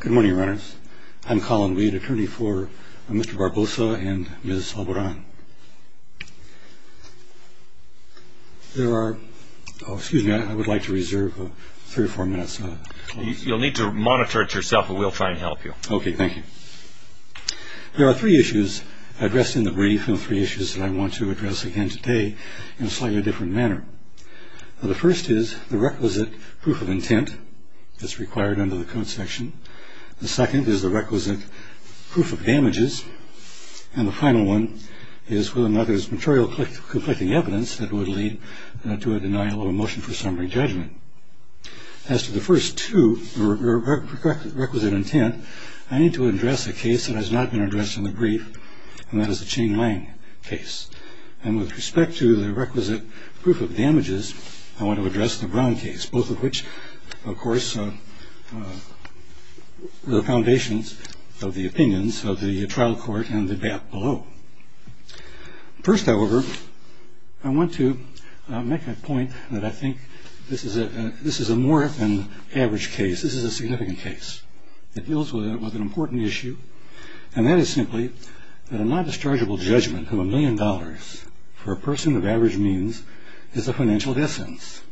Good morning, Runners. I'm Colin Weed, attorney for Mr. Barboza and Ms. Alboran. There are... Oh, excuse me, I would like to reserve three or four minutes. You'll need to monitor it yourself, but we'll try and help you. Okay, thank you. There are three issues addressed in the brief, and the three issues that I want to address again today in a slightly different manner. The first is the requisite proof of intent that's required under the code section. The second is the requisite proof of damages. And the final one is whether or not there's material conflicting evidence that would lead to a denial of a motion for summary judgment. As to the first two, requisite intent, I need to address a case that has not been addressed in the brief, and that is the Ching Lang case. And with respect to the requisite proof of damages, I want to address the Brown case, both of which, of course, are the foundations of the opinions of the trial court and the BAP below. First, however, I want to make a point that I think this is a more than average case. This is a significant case. It deals with an important issue, and that is simply that a non-dischargeable judgment of a million dollars for a person of average means is the financial essence.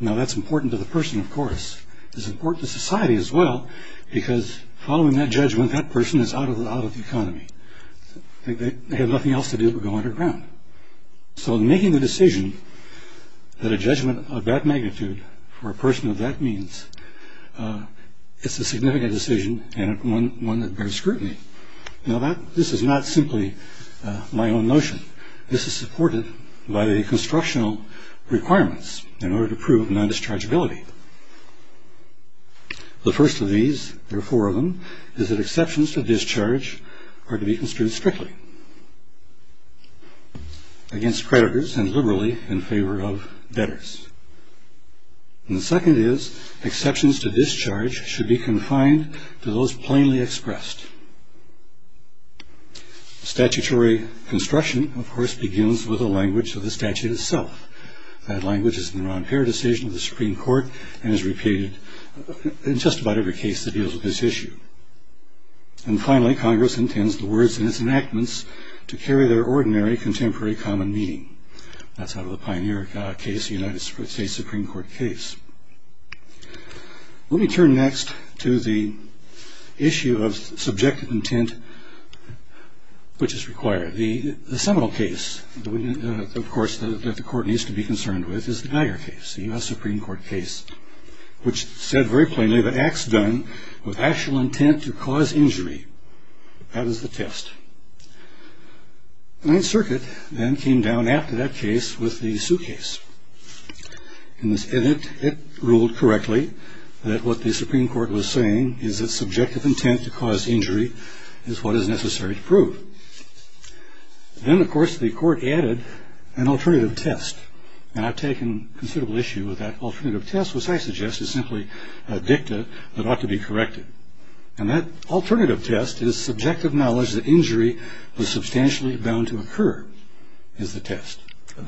Now, that's important to the person, of course. It's important to society as well, because following that judgment, that person is out of the economy. They have nothing else to do but go underground. So in making the decision that a judgment of that magnitude for a person of that means, it's a significant decision and one that bears scrutiny. Now, this is not simply my own notion. This is supported by the constructional requirements in order to prove non-dischargeability. The first of these, there are four of them, is that exceptions to discharge are to be construed strictly against creditors and liberally in favor of debtors. And the second is exceptions to discharge should be confined to those plainly expressed. Statutory construction, of course, begins with the language of the statute itself. That language is in the non-pair decision of the Supreme Court and is repeated in just about every case that deals with this issue. And finally, Congress intends the words in its enactments to carry their ordinary contemporary common meaning. That's out of the Pioneer case, the United States Supreme Court case. Let me turn next to the issue of subjective intent, which is required. The seminal case, of course, that the court needs to be concerned with is the Geiger case, the U.S. Supreme Court case, which said very plainly that acts done with actual intent to cause injury. That is the test. Ninth Circuit then came down after that case with the suitcase. In this edit, it ruled correctly that what the Supreme Court was saying is that subjective intent to cause injury is what is necessary to prove. Then, of course, the court added an alternative test, and I've taken considerable issue with that alternative test, which I suggest is simply a dicta that ought to be corrected. And that alternative test is subjective knowledge that injury was substantially bound to occur is the test.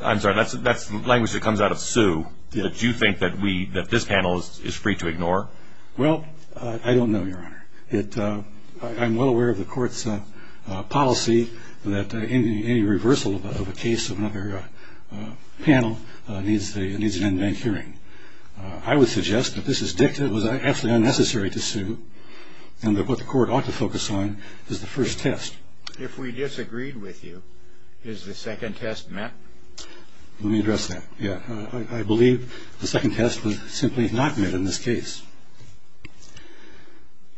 I'm sorry, that's the language that comes out of sue that you think that this panel is free to ignore? Well, I don't know, Your Honor. I'm well aware of the court's policy that any reversal of a case of another panel needs an in-bank hearing. I would suggest that this dicta was absolutely unnecessary to sue and that what the court ought to focus on is the first test. If we disagreed with you, is the second test met? Let me address that. I believe the second test was simply not met in this case.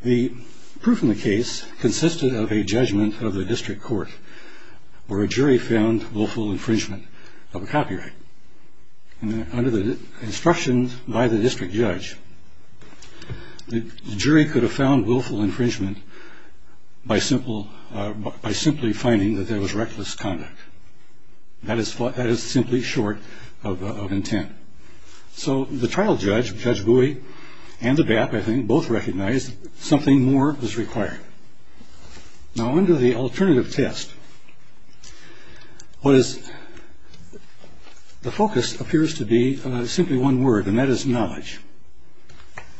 The proof in the case consisted of a judgment of the district court where a jury found willful infringement of a copyright. Under the instructions by the district judge, the jury could have found willful infringement by simply finding that there was reckless conduct. That is simply short of intent. So the trial judge, Judge Bowie, and the BAP, I think, both recognized something more was required. Now, under the alternative test, the focus appears to be simply one word, and that is knowledge.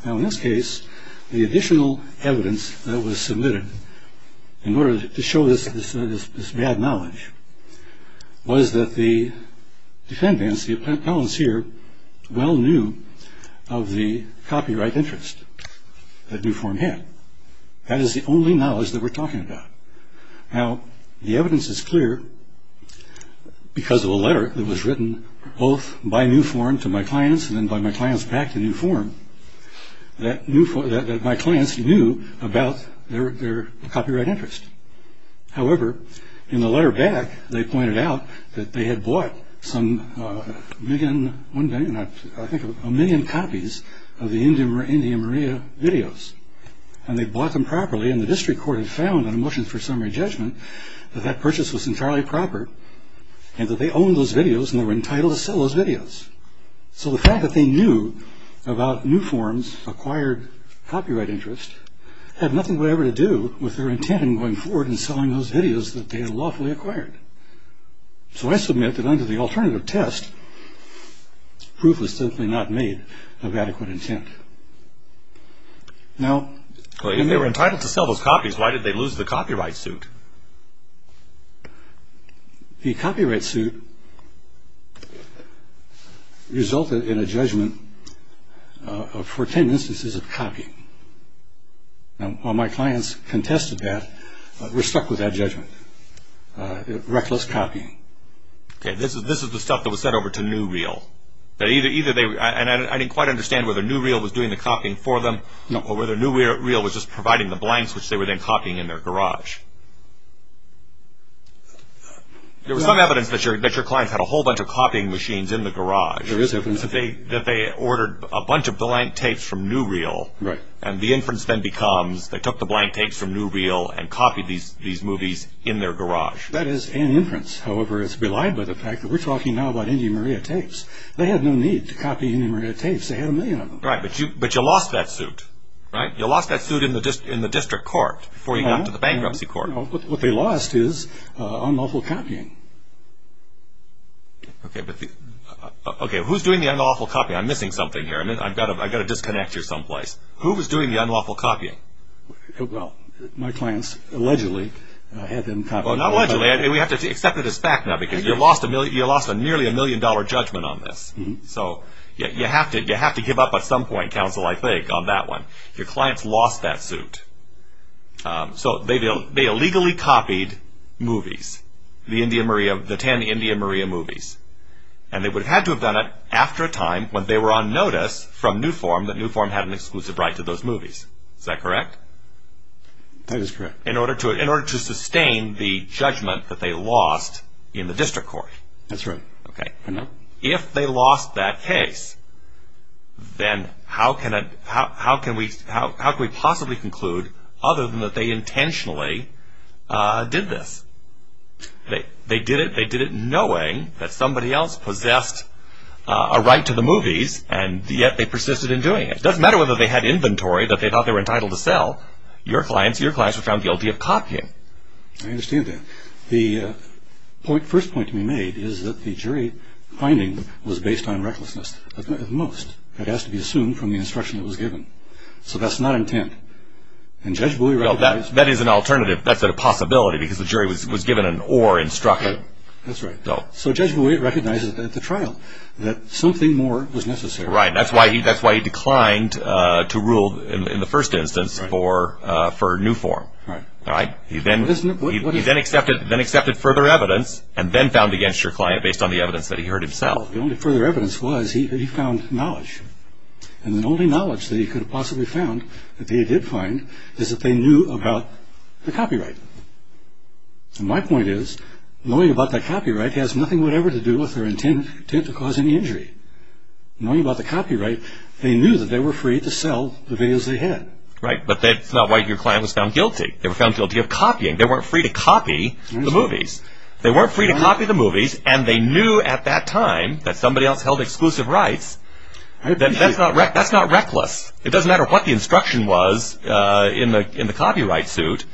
Now, in this case, the additional evidence that was submitted in order to show this bad knowledge was that the defendants, the appellants here, well knew of the copyright interest that new form had. That is the only knowledge that we're talking about. Now, the evidence is clear because of a letter that was written both by new form to my clients and then by my clients back to new form that my clients knew about their copyright interest. However, in the letter back, they pointed out that they had bought a million copies of the Indy and Maria videos. And they bought them properly, and the district court had found in a motion for summary judgment that that purchase was entirely proper and that they owned those videos and were entitled to sell those videos. So the fact that they knew about new form's acquired copyright interest had nothing whatever to do with their intent in going forward and selling those videos that they had lawfully acquired. So I submit that under the alternative test, proof was simply not made of adequate intent. Now... Well, if they were entitled to sell those copies, why did they lose the copyright suit? The copyright suit resulted in a judgment for 10 instances of copying. Now, while my clients contested that, we're stuck with that judgment. Reckless copying. Okay, this is the stuff that was sent over to New Reel. And I didn't quite understand whether New Reel was doing the copying for them or whether New Reel was just providing the blanks which they were then copying in their garage. There was some evidence that your clients had a whole bunch of copying machines in the garage. There is evidence. That they ordered a bunch of blank tapes from New Reel. And the inference then becomes they took the blank tapes from New Reel and copied these movies in their garage. That is an inference. However, it's belied by the fact that we're talking now about Indy Maria tapes. They had no need to copy Indy Maria tapes. They had a million of them. Right, but you lost that suit. Right? You lost that suit in the district court before you got to the bankruptcy court. What they lost is unlawful copying. Okay, but who's doing the unlawful copying? I'm missing something here. I've got to disconnect you someplace. Who was doing the unlawful copying? Well, my clients allegedly had them copied. Well, not allegedly. We have to accept it as fact now because you lost a nearly a million dollar judgment on this. So you have to give up at some point, counsel, I think, on that one. Your clients lost that suit. So they illegally copied movies, the 10 Indy Maria movies. And they would have had to have done it after a time when they were on notice from New Form that New Form had an exclusive right to those movies. Is that correct? That is correct. In order to sustain the judgment that they lost in the district court. That's right. Okay. If they lost that case, then how can we possibly conclude other than that they intentionally did this? They did it knowing that somebody else possessed a right to the movies, and yet they persisted in doing it. It doesn't matter whether they had inventory that they thought they were entitled to sell. Your clients were found guilty of copying. I understand that. The first point to be made is that the jury finding was based on recklessness at most. It has to be assumed from the instruction that was given. So that's not intent. That is an alternative. That's a possibility because the jury was given an or instruction. That's right. So Judge Bowie recognizes at the trial that something more was necessary. Right. That's why he declined to rule in the first instance for New Form. Right. He then accepted further evidence and then found against your client based on the evidence that he heard himself. The only further evidence was he found knowledge. And the only knowledge that he could have possibly found that they did find is that they knew about the copyright. And my point is, knowing about the copyright has nothing whatever to do with their intent to cause any injury. Knowing about the copyright, they knew that they were free to sell the videos they had. Right, but that's not why your client was found guilty. They were found guilty of copying. They weren't free to copy the movies. They weren't free to copy the movies, and they knew at that time that somebody else held exclusive rights. That's not reckless. It doesn't matter what the instruction was in the copyright suit.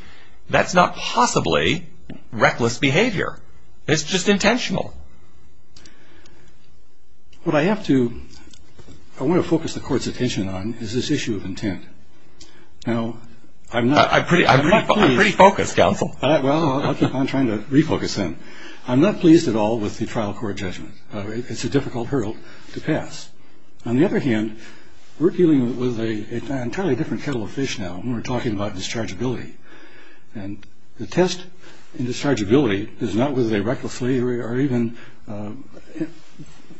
That's not possibly reckless behavior. It's just intentional. What I have to, I want to focus the court's attention on is this issue of intent. Now, I'm not. I'm pretty focused, counsel. Well, I'm trying to refocus then. I'm not pleased at all with the trial court judgment. It's a difficult hurdle to pass. On the other hand, we're dealing with an entirely different kettle of fish now, and we're talking about dischargeability. The test in dischargeability is not whether they recklessly or even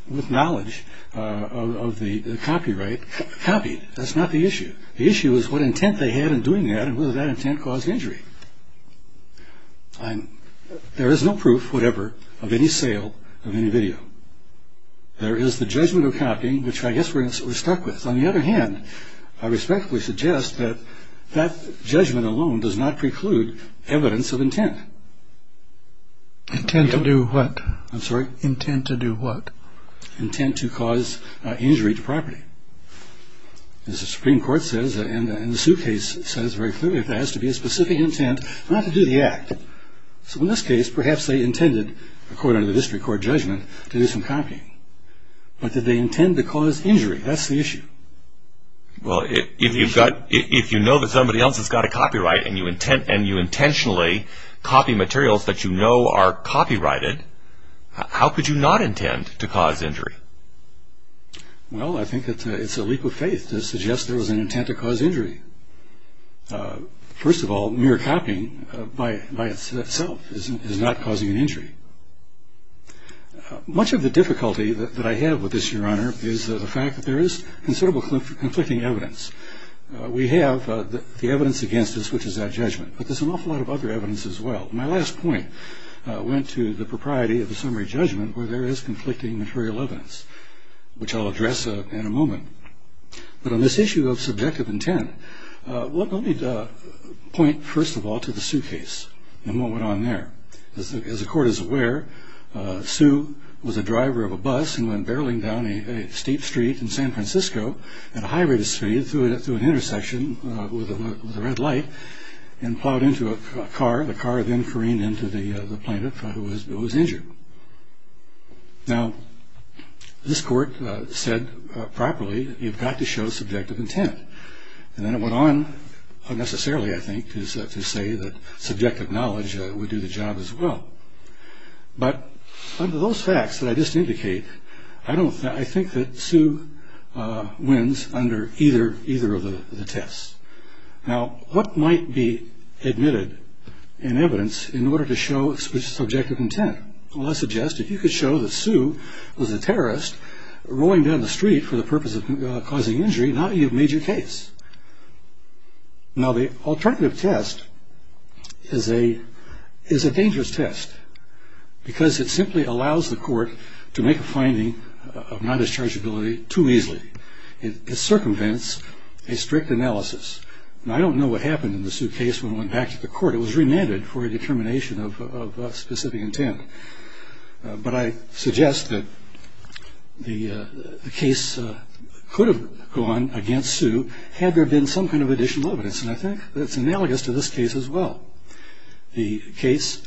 with knowledge of the copyright copied. That's not the issue. The issue is what intent they had in doing that and whether that intent caused injury. There is no proof, whatever, of any sale of any video. There is the judgment of copying, which I guess we're stuck with. On the other hand, I respectfully suggest that that judgment alone does not preclude evidence of intent. Intent to do what? I'm sorry? Intent to do what? Intent to cause injury to property. As the Supreme Court says and the suit case says very clearly, there has to be a specific intent not to do the act. So in this case, perhaps they intended, according to the district court judgment, to do some copying. But did they intend to cause injury? That's the issue. Well, if you know that somebody else has got a copyright and you intentionally copy materials that you know are copyrighted, how could you not intend to cause injury? Well, I think it's a leak of faith to suggest there was an intent to cause injury. First of all, mere copying by itself is not causing an injury. Much of the difficulty that I have with this, Your Honor, is the fact that there is considerable conflicting evidence. We have the evidence against us, which is that judgment. But there's an awful lot of other evidence as well. My last point went to the propriety of the summary judgment where there is conflicting material evidence, which I'll address in a moment. But on this issue of subjective intent, let me point first of all to the suit case and what went on there. As the court is aware, Sue was a driver of a bus and went barreling down a steep street in San Francisco at a high rate of speed through an intersection with a red light and plowed into a car. The car then careened into the plaintiff who was injured. Now, this court said properly you've got to show subjective intent. And then it went on unnecessarily, I think, to say that subjective knowledge would do the job as well. But under those facts that I just indicate, I think that Sue wins under either of the tests. Now, what might be admitted in evidence in order to show subjective intent? Well, I suggest if you could show that Sue was a terrorist rolling down the street for the purpose of causing injury, now you have made your case. Now, the alternative test is a dangerous test because it simply allows the court to make a finding of non-dischargeability too easily. It circumvents a strict analysis. Now, I don't know what happened in the Sue case when it went back to the court. It was remanded for a determination of specific intent. But I suggest that the case could have gone against Sue had there been some kind of additional evidence. And I think that's analogous to this case as well. The case,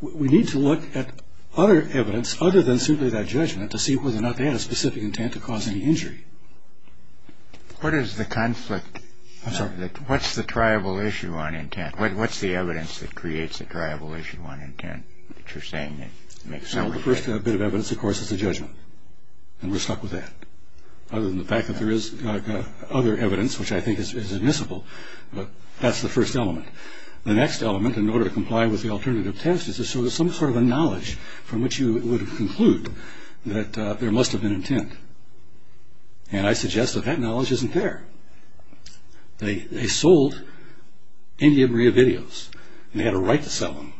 we need to look at other evidence other than simply that judgment to see whether or not they had a specific intent to cause any injury. What is the conflict? I'm sorry. What's the triable issue on intent? What's the evidence that creates a triable issue on intent that you're saying makes sense? Well, the first bit of evidence, of course, is the judgment. And we're stuck with that other than the fact that there is other evidence, which I think is admissible. But that's the first element. The next element in order to comply with the alternative test is to show some sort of a knowledge from which you would conclude that there must have been intent. And I suggest that that knowledge isn't there. They sold India Maria videos. They had a right to sell them.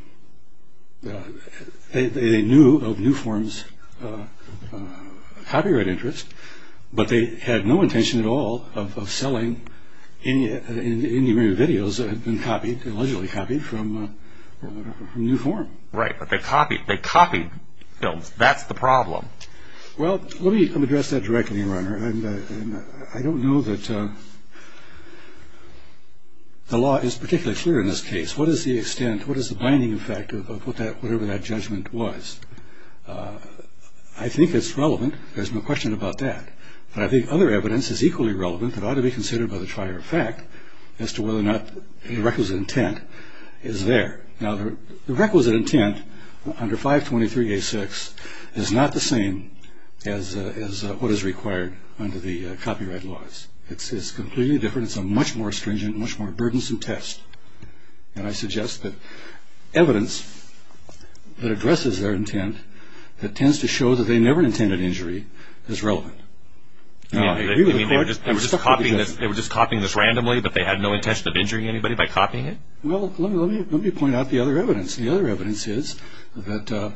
They knew of New Form's copyright interest, but they had no intention at all of selling India Maria videos that had been copied, allegedly copied, from New Form. Right, but they copied. They copied films. That's the problem. I don't know that the law is particularly clear in this case. What is the extent, what is the binding effect of whatever that judgment was? I think it's relevant. There's no question about that. But I think other evidence is equally relevant but ought to be considered by the trier of fact as to whether or not the requisite intent is there. Now, the requisite intent under 523A6 is not the same as what is required under the copyright laws. It's completely different. It's a much more stringent, much more burdensome test. And I suggest that evidence that addresses their intent, that tends to show that they never intended injury, is relevant. They were just copying this randomly, but they had no intention of injuring anybody by copying it? Well, let me point out the other evidence. The other evidence is that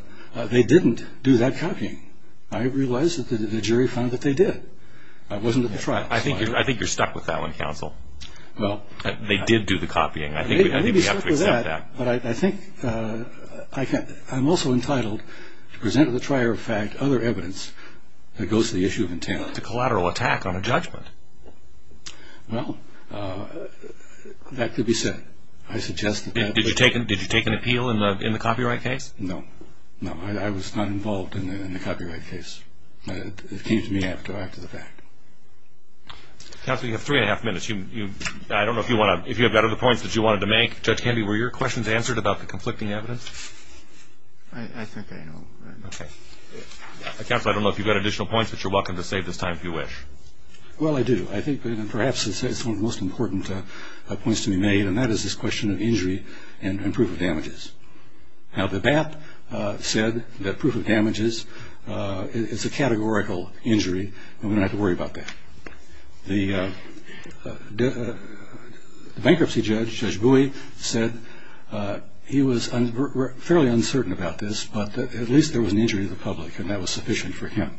they didn't do that copying. I realize that the jury found that they did. It wasn't at the trial. I think you're stuck with that one, counsel. They did do the copying. I think we have to accept that. I'm also entitled to present to the trier of fact other evidence that goes to the issue of intent. It's a collateral attack on a judgment. Well, that could be said. Did you take an appeal in the copyright case? No. No, I was not involved in the copyright case. It came to me after the fact. Counsel, you have three and a half minutes. I don't know if you have other points that you wanted to make. Judge Canby, were your questions answered about the conflicting evidence? I think I know. Okay. Counsel, I don't know if you've got additional points, but you're welcome to save this time if you wish. Well, I do. I think perhaps it's one of the most important points to be made, and that is this question of injury and proof of damages. Now, the BAP said that proof of damages is a categorical injury, and we don't have to worry about that. The bankruptcy judge, Judge Bowie, said he was fairly uncertain about this, but at least there was an injury to the public, and that was sufficient for him.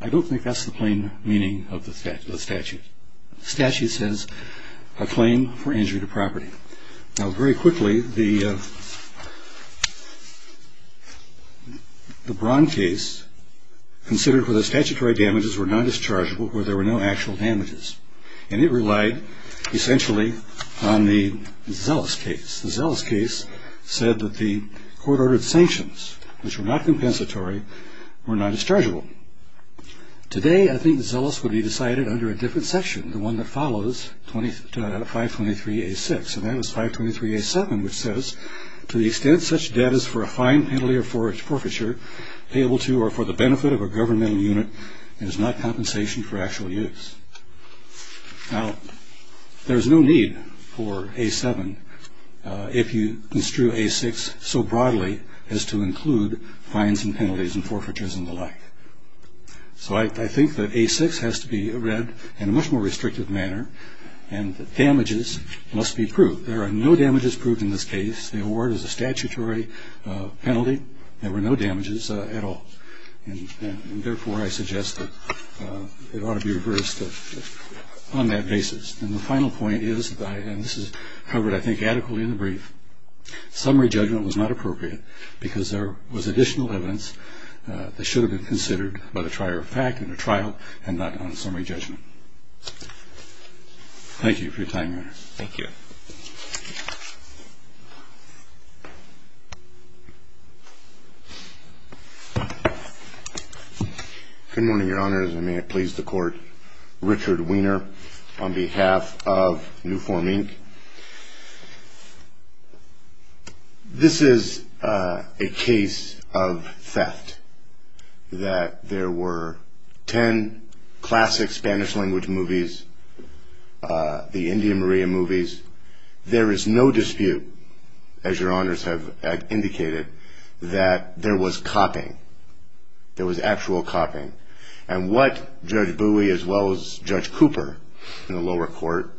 I don't think that's the plain meaning of the statute. The statute says a claim for injury to property. Now, very quickly, the Braun case, considered for the statutory damages, were non-dischargeable where there were no actual damages, and it relied essentially on the Zellis case. The Zellis case said that the court-ordered sanctions, which were not compensatory, were not dischargeable. Today, I think the Zellis would be decided under a different section, the one that follows 523A6, and that is 523A7, which says, To the extent such debt is for a fine, penalty, or forfeiture, payable to or for the benefit of a governmental unit, and is not compensation for actual use. Now, there's no need for A7 if you construe A6 so broadly as to include fines and penalties and forfeitures and the like. So I think that A6 has to be read in a much more restrictive manner, and that damages must be proved. There are no damages proved in this case. The award is a statutory penalty. There were no damages at all, and therefore I suggest that it ought to be reversed on that basis. And the final point is, and this is covered, I think, adequately in the brief, summary judgment was not appropriate because there was additional evidence that should have been considered by the trier of fact in a trial and not on a summary judgment. Thank you for your time, Your Honor. Thank you. Good morning, Your Honors, and may it please the Court. Richard Weiner on behalf of New Form, Inc. This is a case of theft, that there were ten classic Spanish-language movies, the India Maria movies. There is no dispute, as Your Honors have indicated, that there was copying. There was actual copying. And what Judge Bowie as well as Judge Cooper in the lower court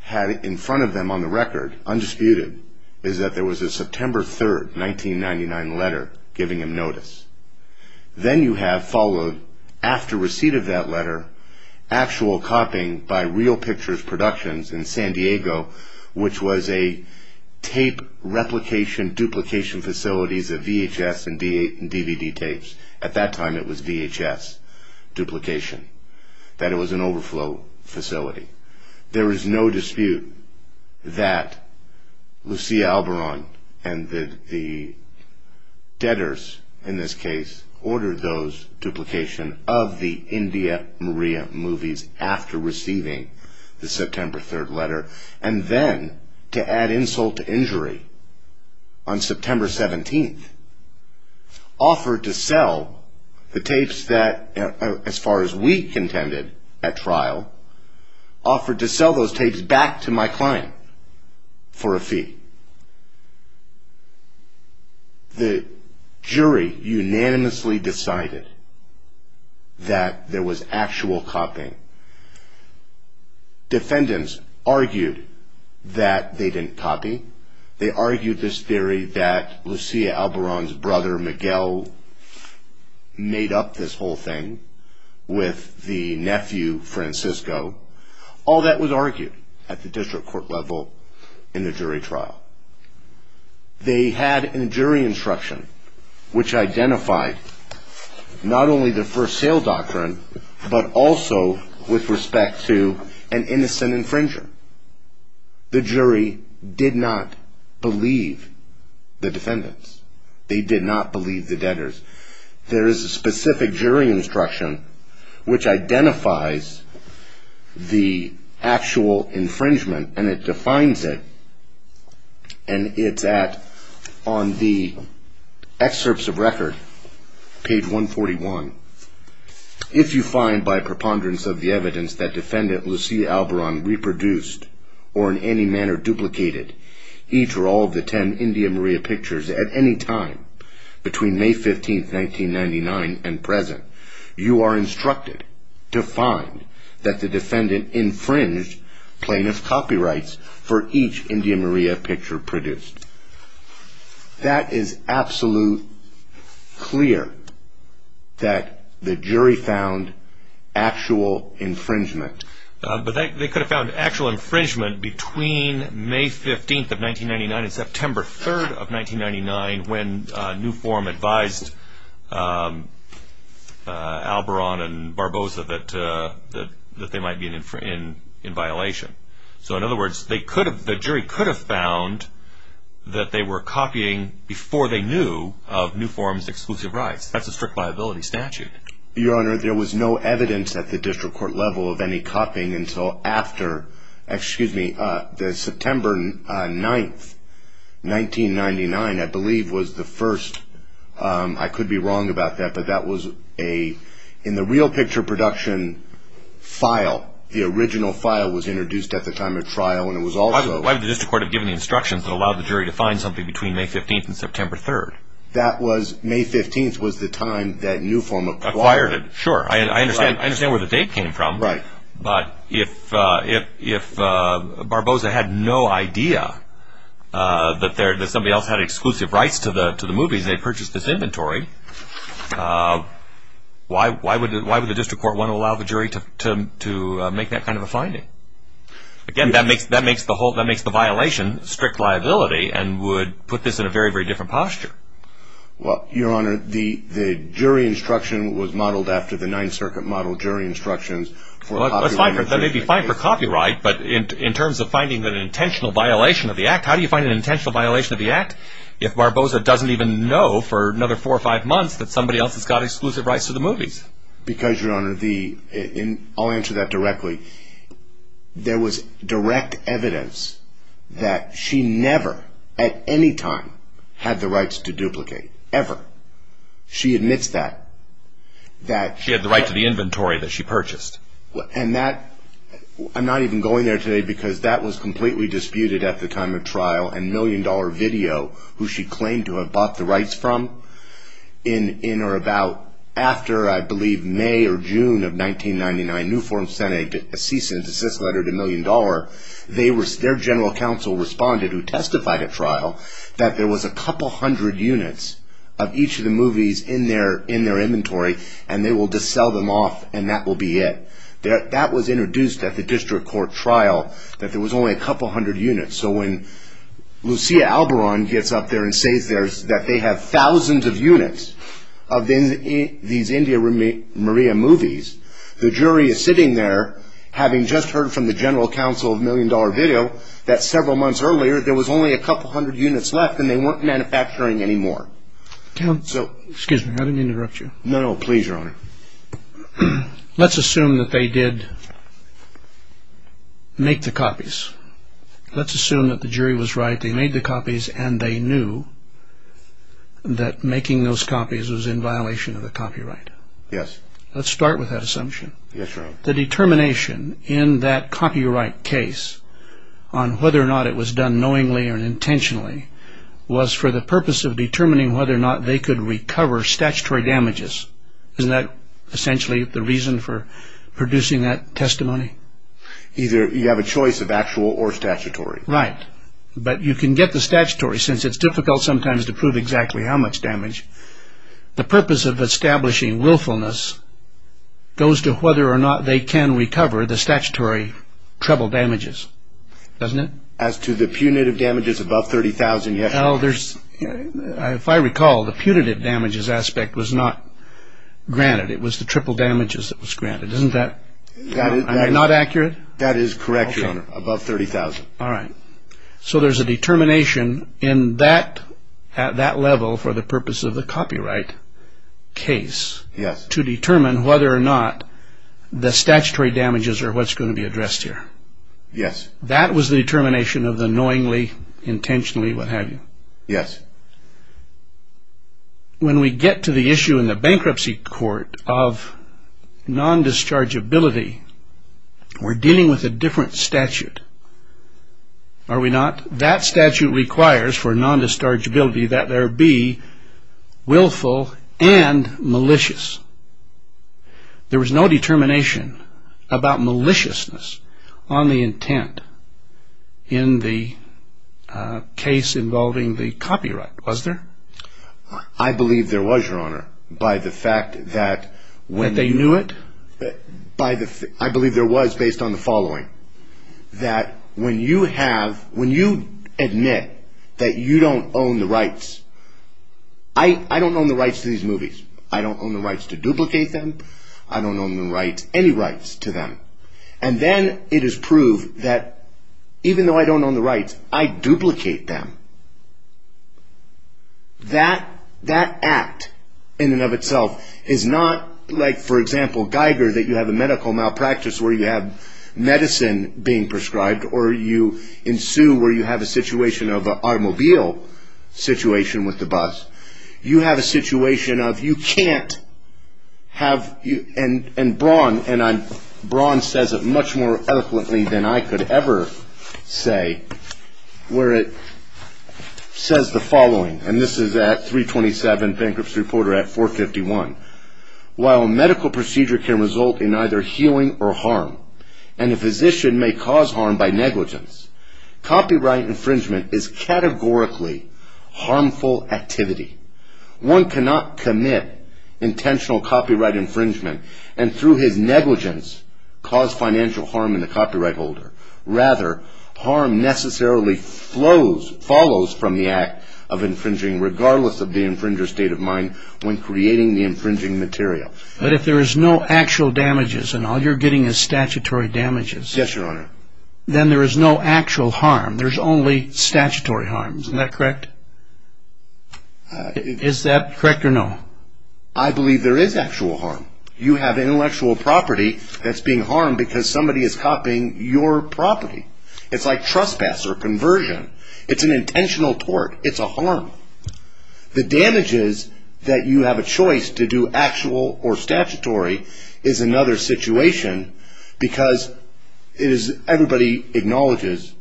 had in front of them on the record, undisputed, is that there was a September 3, 1999 letter giving him notice. Then you have followed, after receipt of that letter, actual copying by Real Pictures Productions in San Diego, which was a tape replication, duplication facilities of VHS and DVD tapes. At that time it was VHS duplication, that it was an overflow facility. There is no dispute that Lucia Albaron and the debtors, in this case, ordered those duplication of the India Maria movies after receiving the September 3 letter. And then, to add insult to injury, on September 17, offered to sell the tapes that, as far as we contended at trial, offered to sell those tapes back to my client for a fee. The jury unanimously decided that there was actual copying. Defendants argued that they didn't copy. They argued this theory that Lucia Albaron's brother, Miguel, made up this whole thing with the nephew, Francisco. All that was argued at the district court level in the jury trial. They had a jury instruction which identified not only the first sale doctrine, but also with respect to an innocent infringer. The jury did not believe the defendants. They did not believe the debtors. There is a specific jury instruction which identifies the actual infringement, and it defines it, and it's at, on the excerpts of record, page 141. If you find, by preponderance of the evidence, that defendant Lucia Albaron reproduced or in any manner duplicated each or all of the ten India Maria pictures at any time between May 15, 1999 and present, you are instructed to find that the defendant infringed plaintiff's copyrights for each India Maria picture produced. That is absolute clear that the jury found actual infringement. But they could have found actual infringement between May 15, 1999 and September 3, 1999 when New Form advised Albaron and Barbosa that they might be in violation. So, in other words, they could have, the jury could have found that they were copying before they knew of New Form's exclusive rights. That's a strict liability statute. Your Honor, there was no evidence at the district court level of any copying until after, excuse me, the September 9, 1999, I believe was the first. I could be wrong about that, but that was a, in the real picture production file, the original file was introduced at the time of trial and it was also… Why would the district court have given the instructions that allowed the jury to find something between May 15 and September 3? That was, May 15 was the time that New Form acquired it. Sure, I understand where the date came from. Right. But if Barbosa had no idea that somebody else had exclusive rights to the movies and they purchased this inventory, why would the district court want to allow the jury to make that kind of a finding? Again, that makes the violation strict liability and would put this in a very, very different posture. Well, Your Honor, the jury instruction was modeled after the 9th Circuit model jury instructions. That may be fine for copyright, but in terms of finding an intentional violation of the Act, how do you find an intentional violation of the Act if Barbosa doesn't even know for another four or five months that somebody else has got exclusive rights to the movies? Because, Your Honor, I'll answer that directly. There was direct evidence that she never, at any time, had the rights to duplicate, ever. She admits that. She had the right to the inventory that she purchased. And that, I'm not even going there today because that was completely disputed at the time of trial and Million Dollar Video, who she claimed to have bought the rights from, in or about after, I believe, May or June of 1999, Newforms sent a cease and desist letter to Million Dollar. Their general counsel responded, who testified at trial, that there was a couple hundred units of each of the movies in their inventory and they will just sell them off and that will be it. That was introduced at the district court trial, that there was only a couple hundred units. So when Lucia Albaron gets up there and says that they have thousands of units of these India Maria movies, the jury is sitting there having just heard from the general counsel of Million Dollar Video that several months earlier there was only a couple hundred units left and they weren't manufacturing any more. Excuse me, I didn't interrupt you. No, no, please, Your Honor. Let's assume that they did make the copies. Let's assume that the jury was right, they made the copies and they knew that making those copies was in violation of the copyright. Yes. Let's start with that assumption. Yes, Your Honor. The determination in that copyright case on whether or not it was done knowingly or intentionally was for the purpose of determining whether or not they could recover statutory damages. Isn't that essentially the reason for producing that testimony? Either you have a choice of actual or statutory. Right. But you can get the statutory since it's difficult sometimes to prove exactly how much damage. The purpose of establishing willfulness goes to whether or not they can recover the statutory treble damages. Doesn't it? As to the punitive damages above $30,000, yes. If I recall, the punitive damages aspect was not granted. It was the triple damages that was granted. Isn't that not accurate? That is correct, Your Honor, above $30,000. All right. So there's a determination in that level for the purpose of the copyright case to determine whether or not the statutory damages are what's going to be addressed here. Yes. That was the determination of the knowingly, intentionally, what have you. Yes. When we get to the issue in the bankruptcy court of non-dischargeability, we're dealing with a different statute, are we not? That statute requires for non-dischargeability that there be willful and malicious. There was no determination about maliciousness on the intent in the case involving the copyright, was there? I believe there was, Your Honor, by the fact that... That they knew it? I believe there was based on the following, that when you admit that you don't own the rights, I don't own the rights to duplicate them, I don't own the rights, any rights to them, and then it is proved that even though I don't own the rights, I duplicate them, that act in and of itself is not like, for example, Geiger, that you have a medical malpractice where you have medicine being prescribed or you ensue where you have a situation of automobile situation with the bus. You have a situation of you can't have... And Braun says it much more eloquently than I could ever say, where it says the following, and this is at 327 Bankruptcy Reporter at 451. While a medical procedure can result in either healing or harm, and a physician may cause harm by negligence, copyright infringement is categorically harmful activity. One cannot commit intentional copyright infringement and through his negligence cause financial harm in the copyright holder. Rather, harm necessarily flows, follows from the act of infringing, regardless of the infringer's state of mind when creating the infringing material. But if there is no actual damages and all you're getting is statutory damages... Yes, Your Honor. ...then there is no actual harm. There's only statutory harm. Isn't that correct? Is that correct or no? I believe there is actual harm. You have intellectual property that's being harmed because somebody is copying your property. It's like trespass or conversion. It's an intentional tort. It's a harm. The damages that you have a choice to do actual or statutory is another situation because everybody acknowledges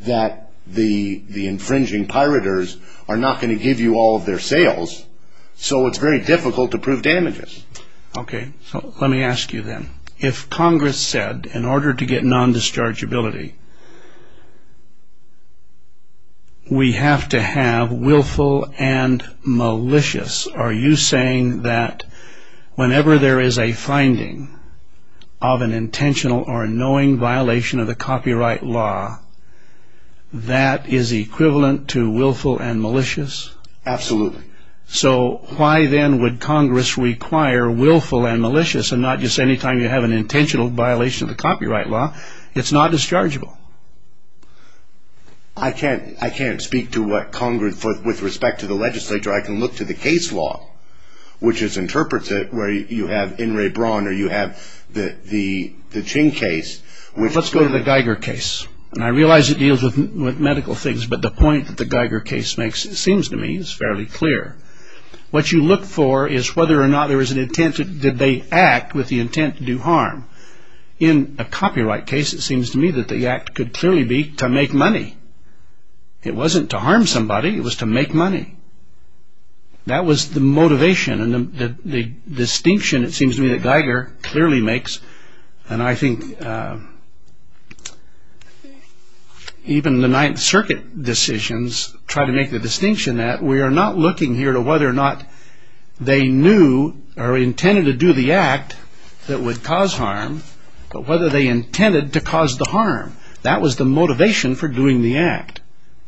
that the infringing pirators are not going to give you all of their sales, so it's very difficult to prove damages. Okay. Let me ask you then. If Congress said, in order to get non-dischargeability, we have to have willful and malicious, are you saying that whenever there is a finding of an intentional or knowing violation of the copyright law, that is equivalent to willful and malicious? Absolutely. So why then would Congress require willful and malicious, and not just any time you have an intentional violation of the copyright law? It's not dischargeable. I can't speak with respect to the legislature. I can look to the case law, which interprets it where you have In re Brawn or you have the Ching case. Let's go to the Geiger case, and I realize it deals with medical things, but the point that the Geiger case makes, it seems to me, is fairly clear. What you look for is whether or not there is an intent that they act with the intent to do harm. In a copyright case, it seems to me that the act could clearly be to make money. It wasn't to harm somebody. It was to make money. That was the motivation, and the distinction, it seems to me, that Geiger clearly makes, and I think even the Ninth Circuit decisions try to make the distinction that we are not looking here to whether or not they knew or intended to do the act that would cause harm, but whether they intended to cause the harm. That was the motivation for doing the act.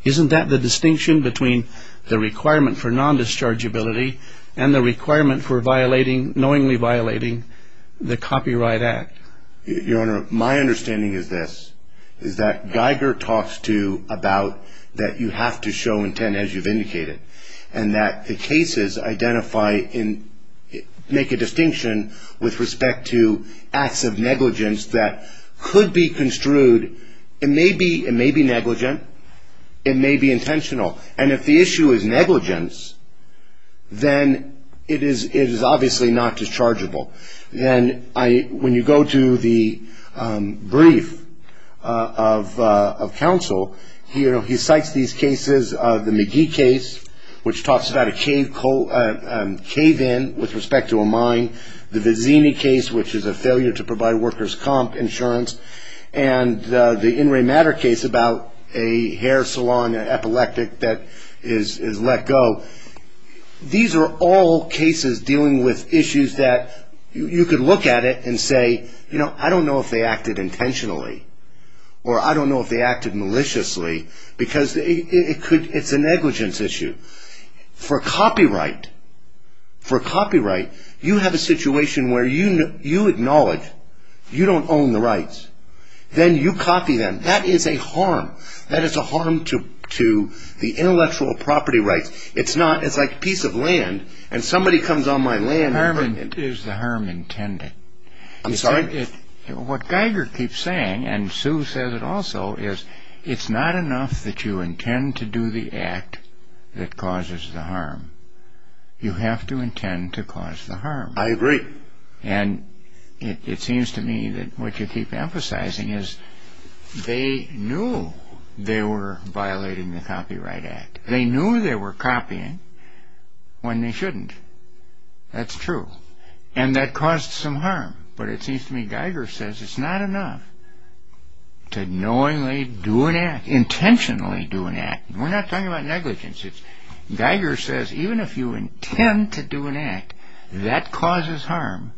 Isn't that the distinction between the requirement for non-dischargeability and the requirement for knowingly violating the Copyright Act? Your Honor, my understanding is this, is that Geiger talks to about that you have to show intent, as you've indicated, and that the cases identify and make a distinction with respect to acts of negligence that could be construed, it may be negligent, it may be intentional, and if the issue is negligence, then it is obviously not dischargeable. Then when you go to the brief of counsel, he cites these cases, the McGee case, which talks about a cave-in with respect to a mine, the Vizzini case, which is a failure to provide workers' comp insurance, and the In Re Matter case about a hair salon, an epileptic that is let go. These are all cases dealing with issues that you could look at it and say, you know, I don't know if they acted intentionally, or I don't know if they acted maliciously, because it's a negligence issue. For copyright, for copyright, you have a situation where you acknowledge you don't own the rights, then you copy them. That is a harm. That is a harm to the intellectual property rights. It's like a piece of land, and somebody comes on my land... Harm is the harm intended. I'm sorry? What Geiger keeps saying, and Sue says it also, is it's not enough that you intend to do the act that causes the harm. You have to intend to cause the harm. I agree. And it seems to me that what you keep emphasizing is they knew they were violating the Copyright Act. They knew they were copying when they shouldn't. That's true. And that caused some harm. But it seems to me Geiger says it's not enough to knowingly do an act, intentionally do an act. We're not talking about negligence. Geiger says even if you intend to do an act that causes harm,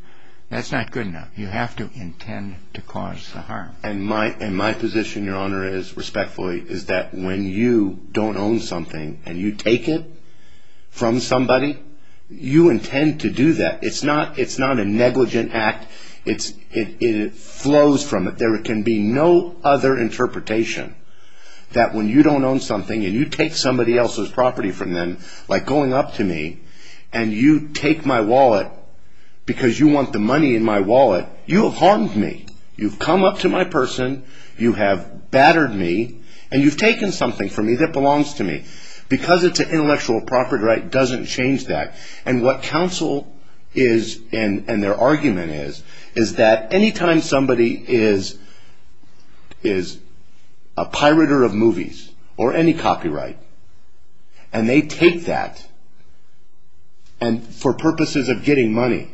that's not good enough. You have to intend to cause the harm. And my position, Your Honor, respectfully, is that when you don't own something, and you take it from somebody, you intend to do that. It's not a negligent act. It flows from it. There can be no other interpretation that when you don't own something, and you take somebody else's property from them, like going up to me, and you take my wallet because you want the money in my wallet, you have harmed me. You've come up to my person, you have battered me, and you've taken something from me that belongs to me. Because it's an intellectual property right, it doesn't change that. And what counsel is, and their argument is, is that any time somebody is a pirater of movies, or any copyright, and they take that, and for purposes of getting money,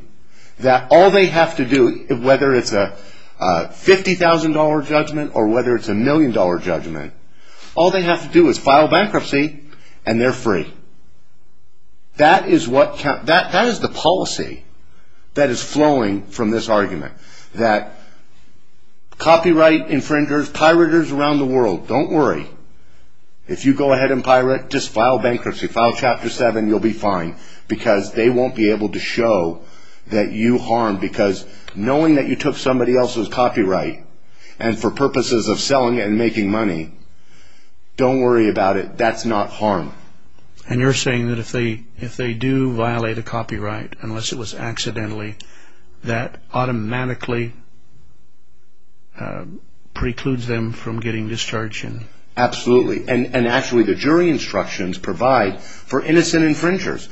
that all they have to do, whether it's a $50,000 judgment or whether it's a million dollar judgment, all they have to do is file bankruptcy, and they're free. That is the policy that is flowing from this argument. That copyright infringers, piraters around the world, don't worry. If you go ahead and pirate, just file bankruptcy, file Chapter 7, you'll be fine. Because they won't be able to show that you harmed, because knowing that you took somebody else's copyright, and for purposes of selling and making money, don't worry about it, that's not harm. And you're saying that if they do violate a copyright, unless it was accidentally, that automatically precludes them from getting discharged? Absolutely, and actually the jury instructions provide for innocent infringers.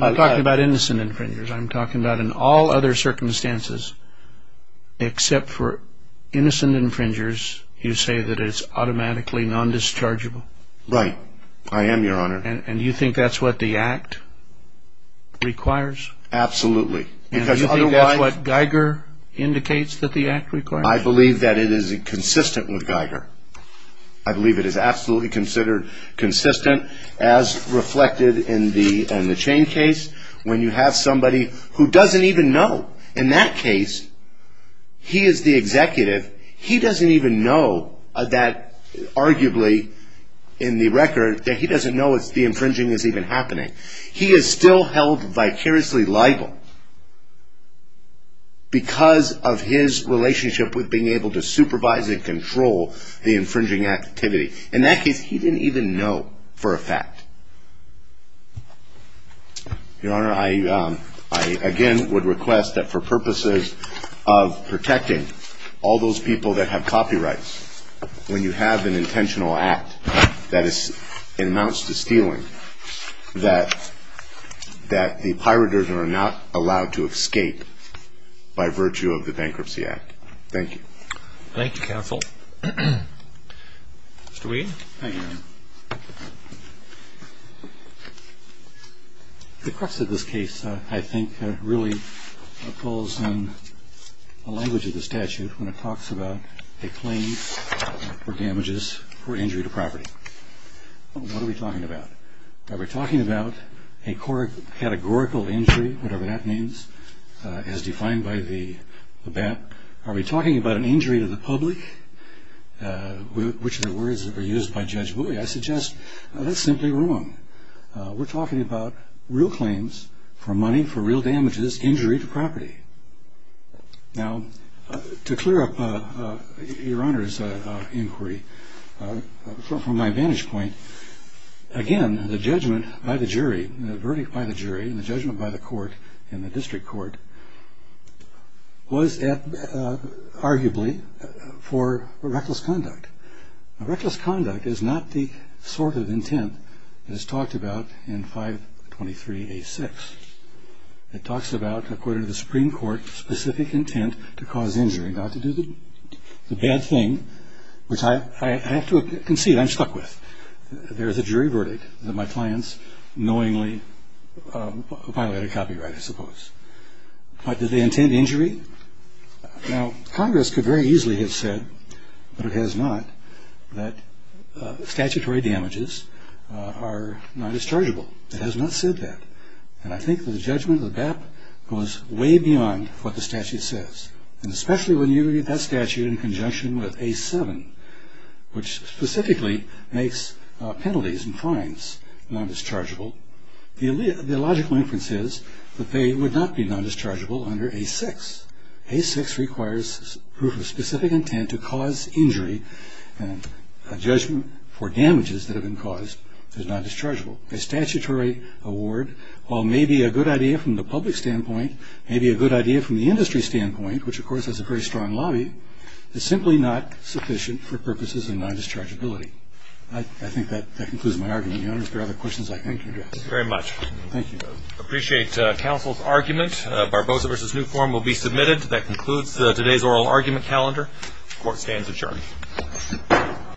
I'm talking about innocent infringers, I'm talking about in all other circumstances, except for innocent infringers, you say that it's automatically non-dischargeable? Right, I am, Your Honor. And you think that's what the Act requires? Absolutely. And you think that's what Geiger indicates that the Act requires? I believe that it is consistent with Geiger. I believe it is absolutely considered consistent, as reflected in the Chain case, when you have somebody who doesn't even know. In that case, he is the executive. He doesn't even know that, arguably, in the record, that he doesn't know the infringing is even happening. He is still held vicariously liable because of his relationship with being able to supervise and control the infringing activity. In that case, he didn't even know for a fact. Your Honor, I again would request that for purposes of protecting all those people that have copyrights, when you have an intentional act that amounts to stealing, that the piraters are not allowed to escape by virtue of the Bankruptcy Act. Thank you. Thank you, counsel. Mr. Weed? Thank you, Your Honor. The crux of this case, I think, really falls on the language of the statute when it talks about a claim for damages for injury to property. What are we talking about? Are we talking about a categorical injury, whatever that means, as defined by the BAT? Which are words that were used by Judge Bowie. I suggest that's simply wrong. We're talking about real claims for money for real damages, injury to property. Now, to clear up Your Honor's inquiry, from my vantage point, again, the judgment by the jury, the verdict by the jury, and the judgment by the court in the district court was arguably for reckless conduct. Reckless conduct is not the sort of intent that is talked about in 523A6. It talks about, according to the Supreme Court, specific intent to cause injury, not to do the bad thing, which I have to concede I'm stuck with. There is a jury verdict that my clients knowingly violated copyright, I suppose. But did they intend injury? Now, Congress could very easily have said, but it has not, that statutory damages are not as chargeable. It has not said that. And I think the judgment of the BAT goes way beyond what the statute says. And especially when you read that statute in conjunction with A7, which specifically makes penalties and fines not as chargeable, the logical inference is that they would not be not as chargeable under A6. A6 requires proof of specific intent to cause injury, and a judgment for damages that have been caused is not as chargeable. A statutory award, while maybe a good idea from the public standpoint, maybe a good idea from the industry standpoint, which, of course, has a very strong lobby, is simply not sufficient for purposes of not as chargeability. I think that concludes my argument. Your Honor, if there are other questions, I can address. Thank you very much. Thank you. I appreciate counsel's argument. Barbosa v. Newform will be submitted. That concludes today's oral argument calendar. Court stands adjourned.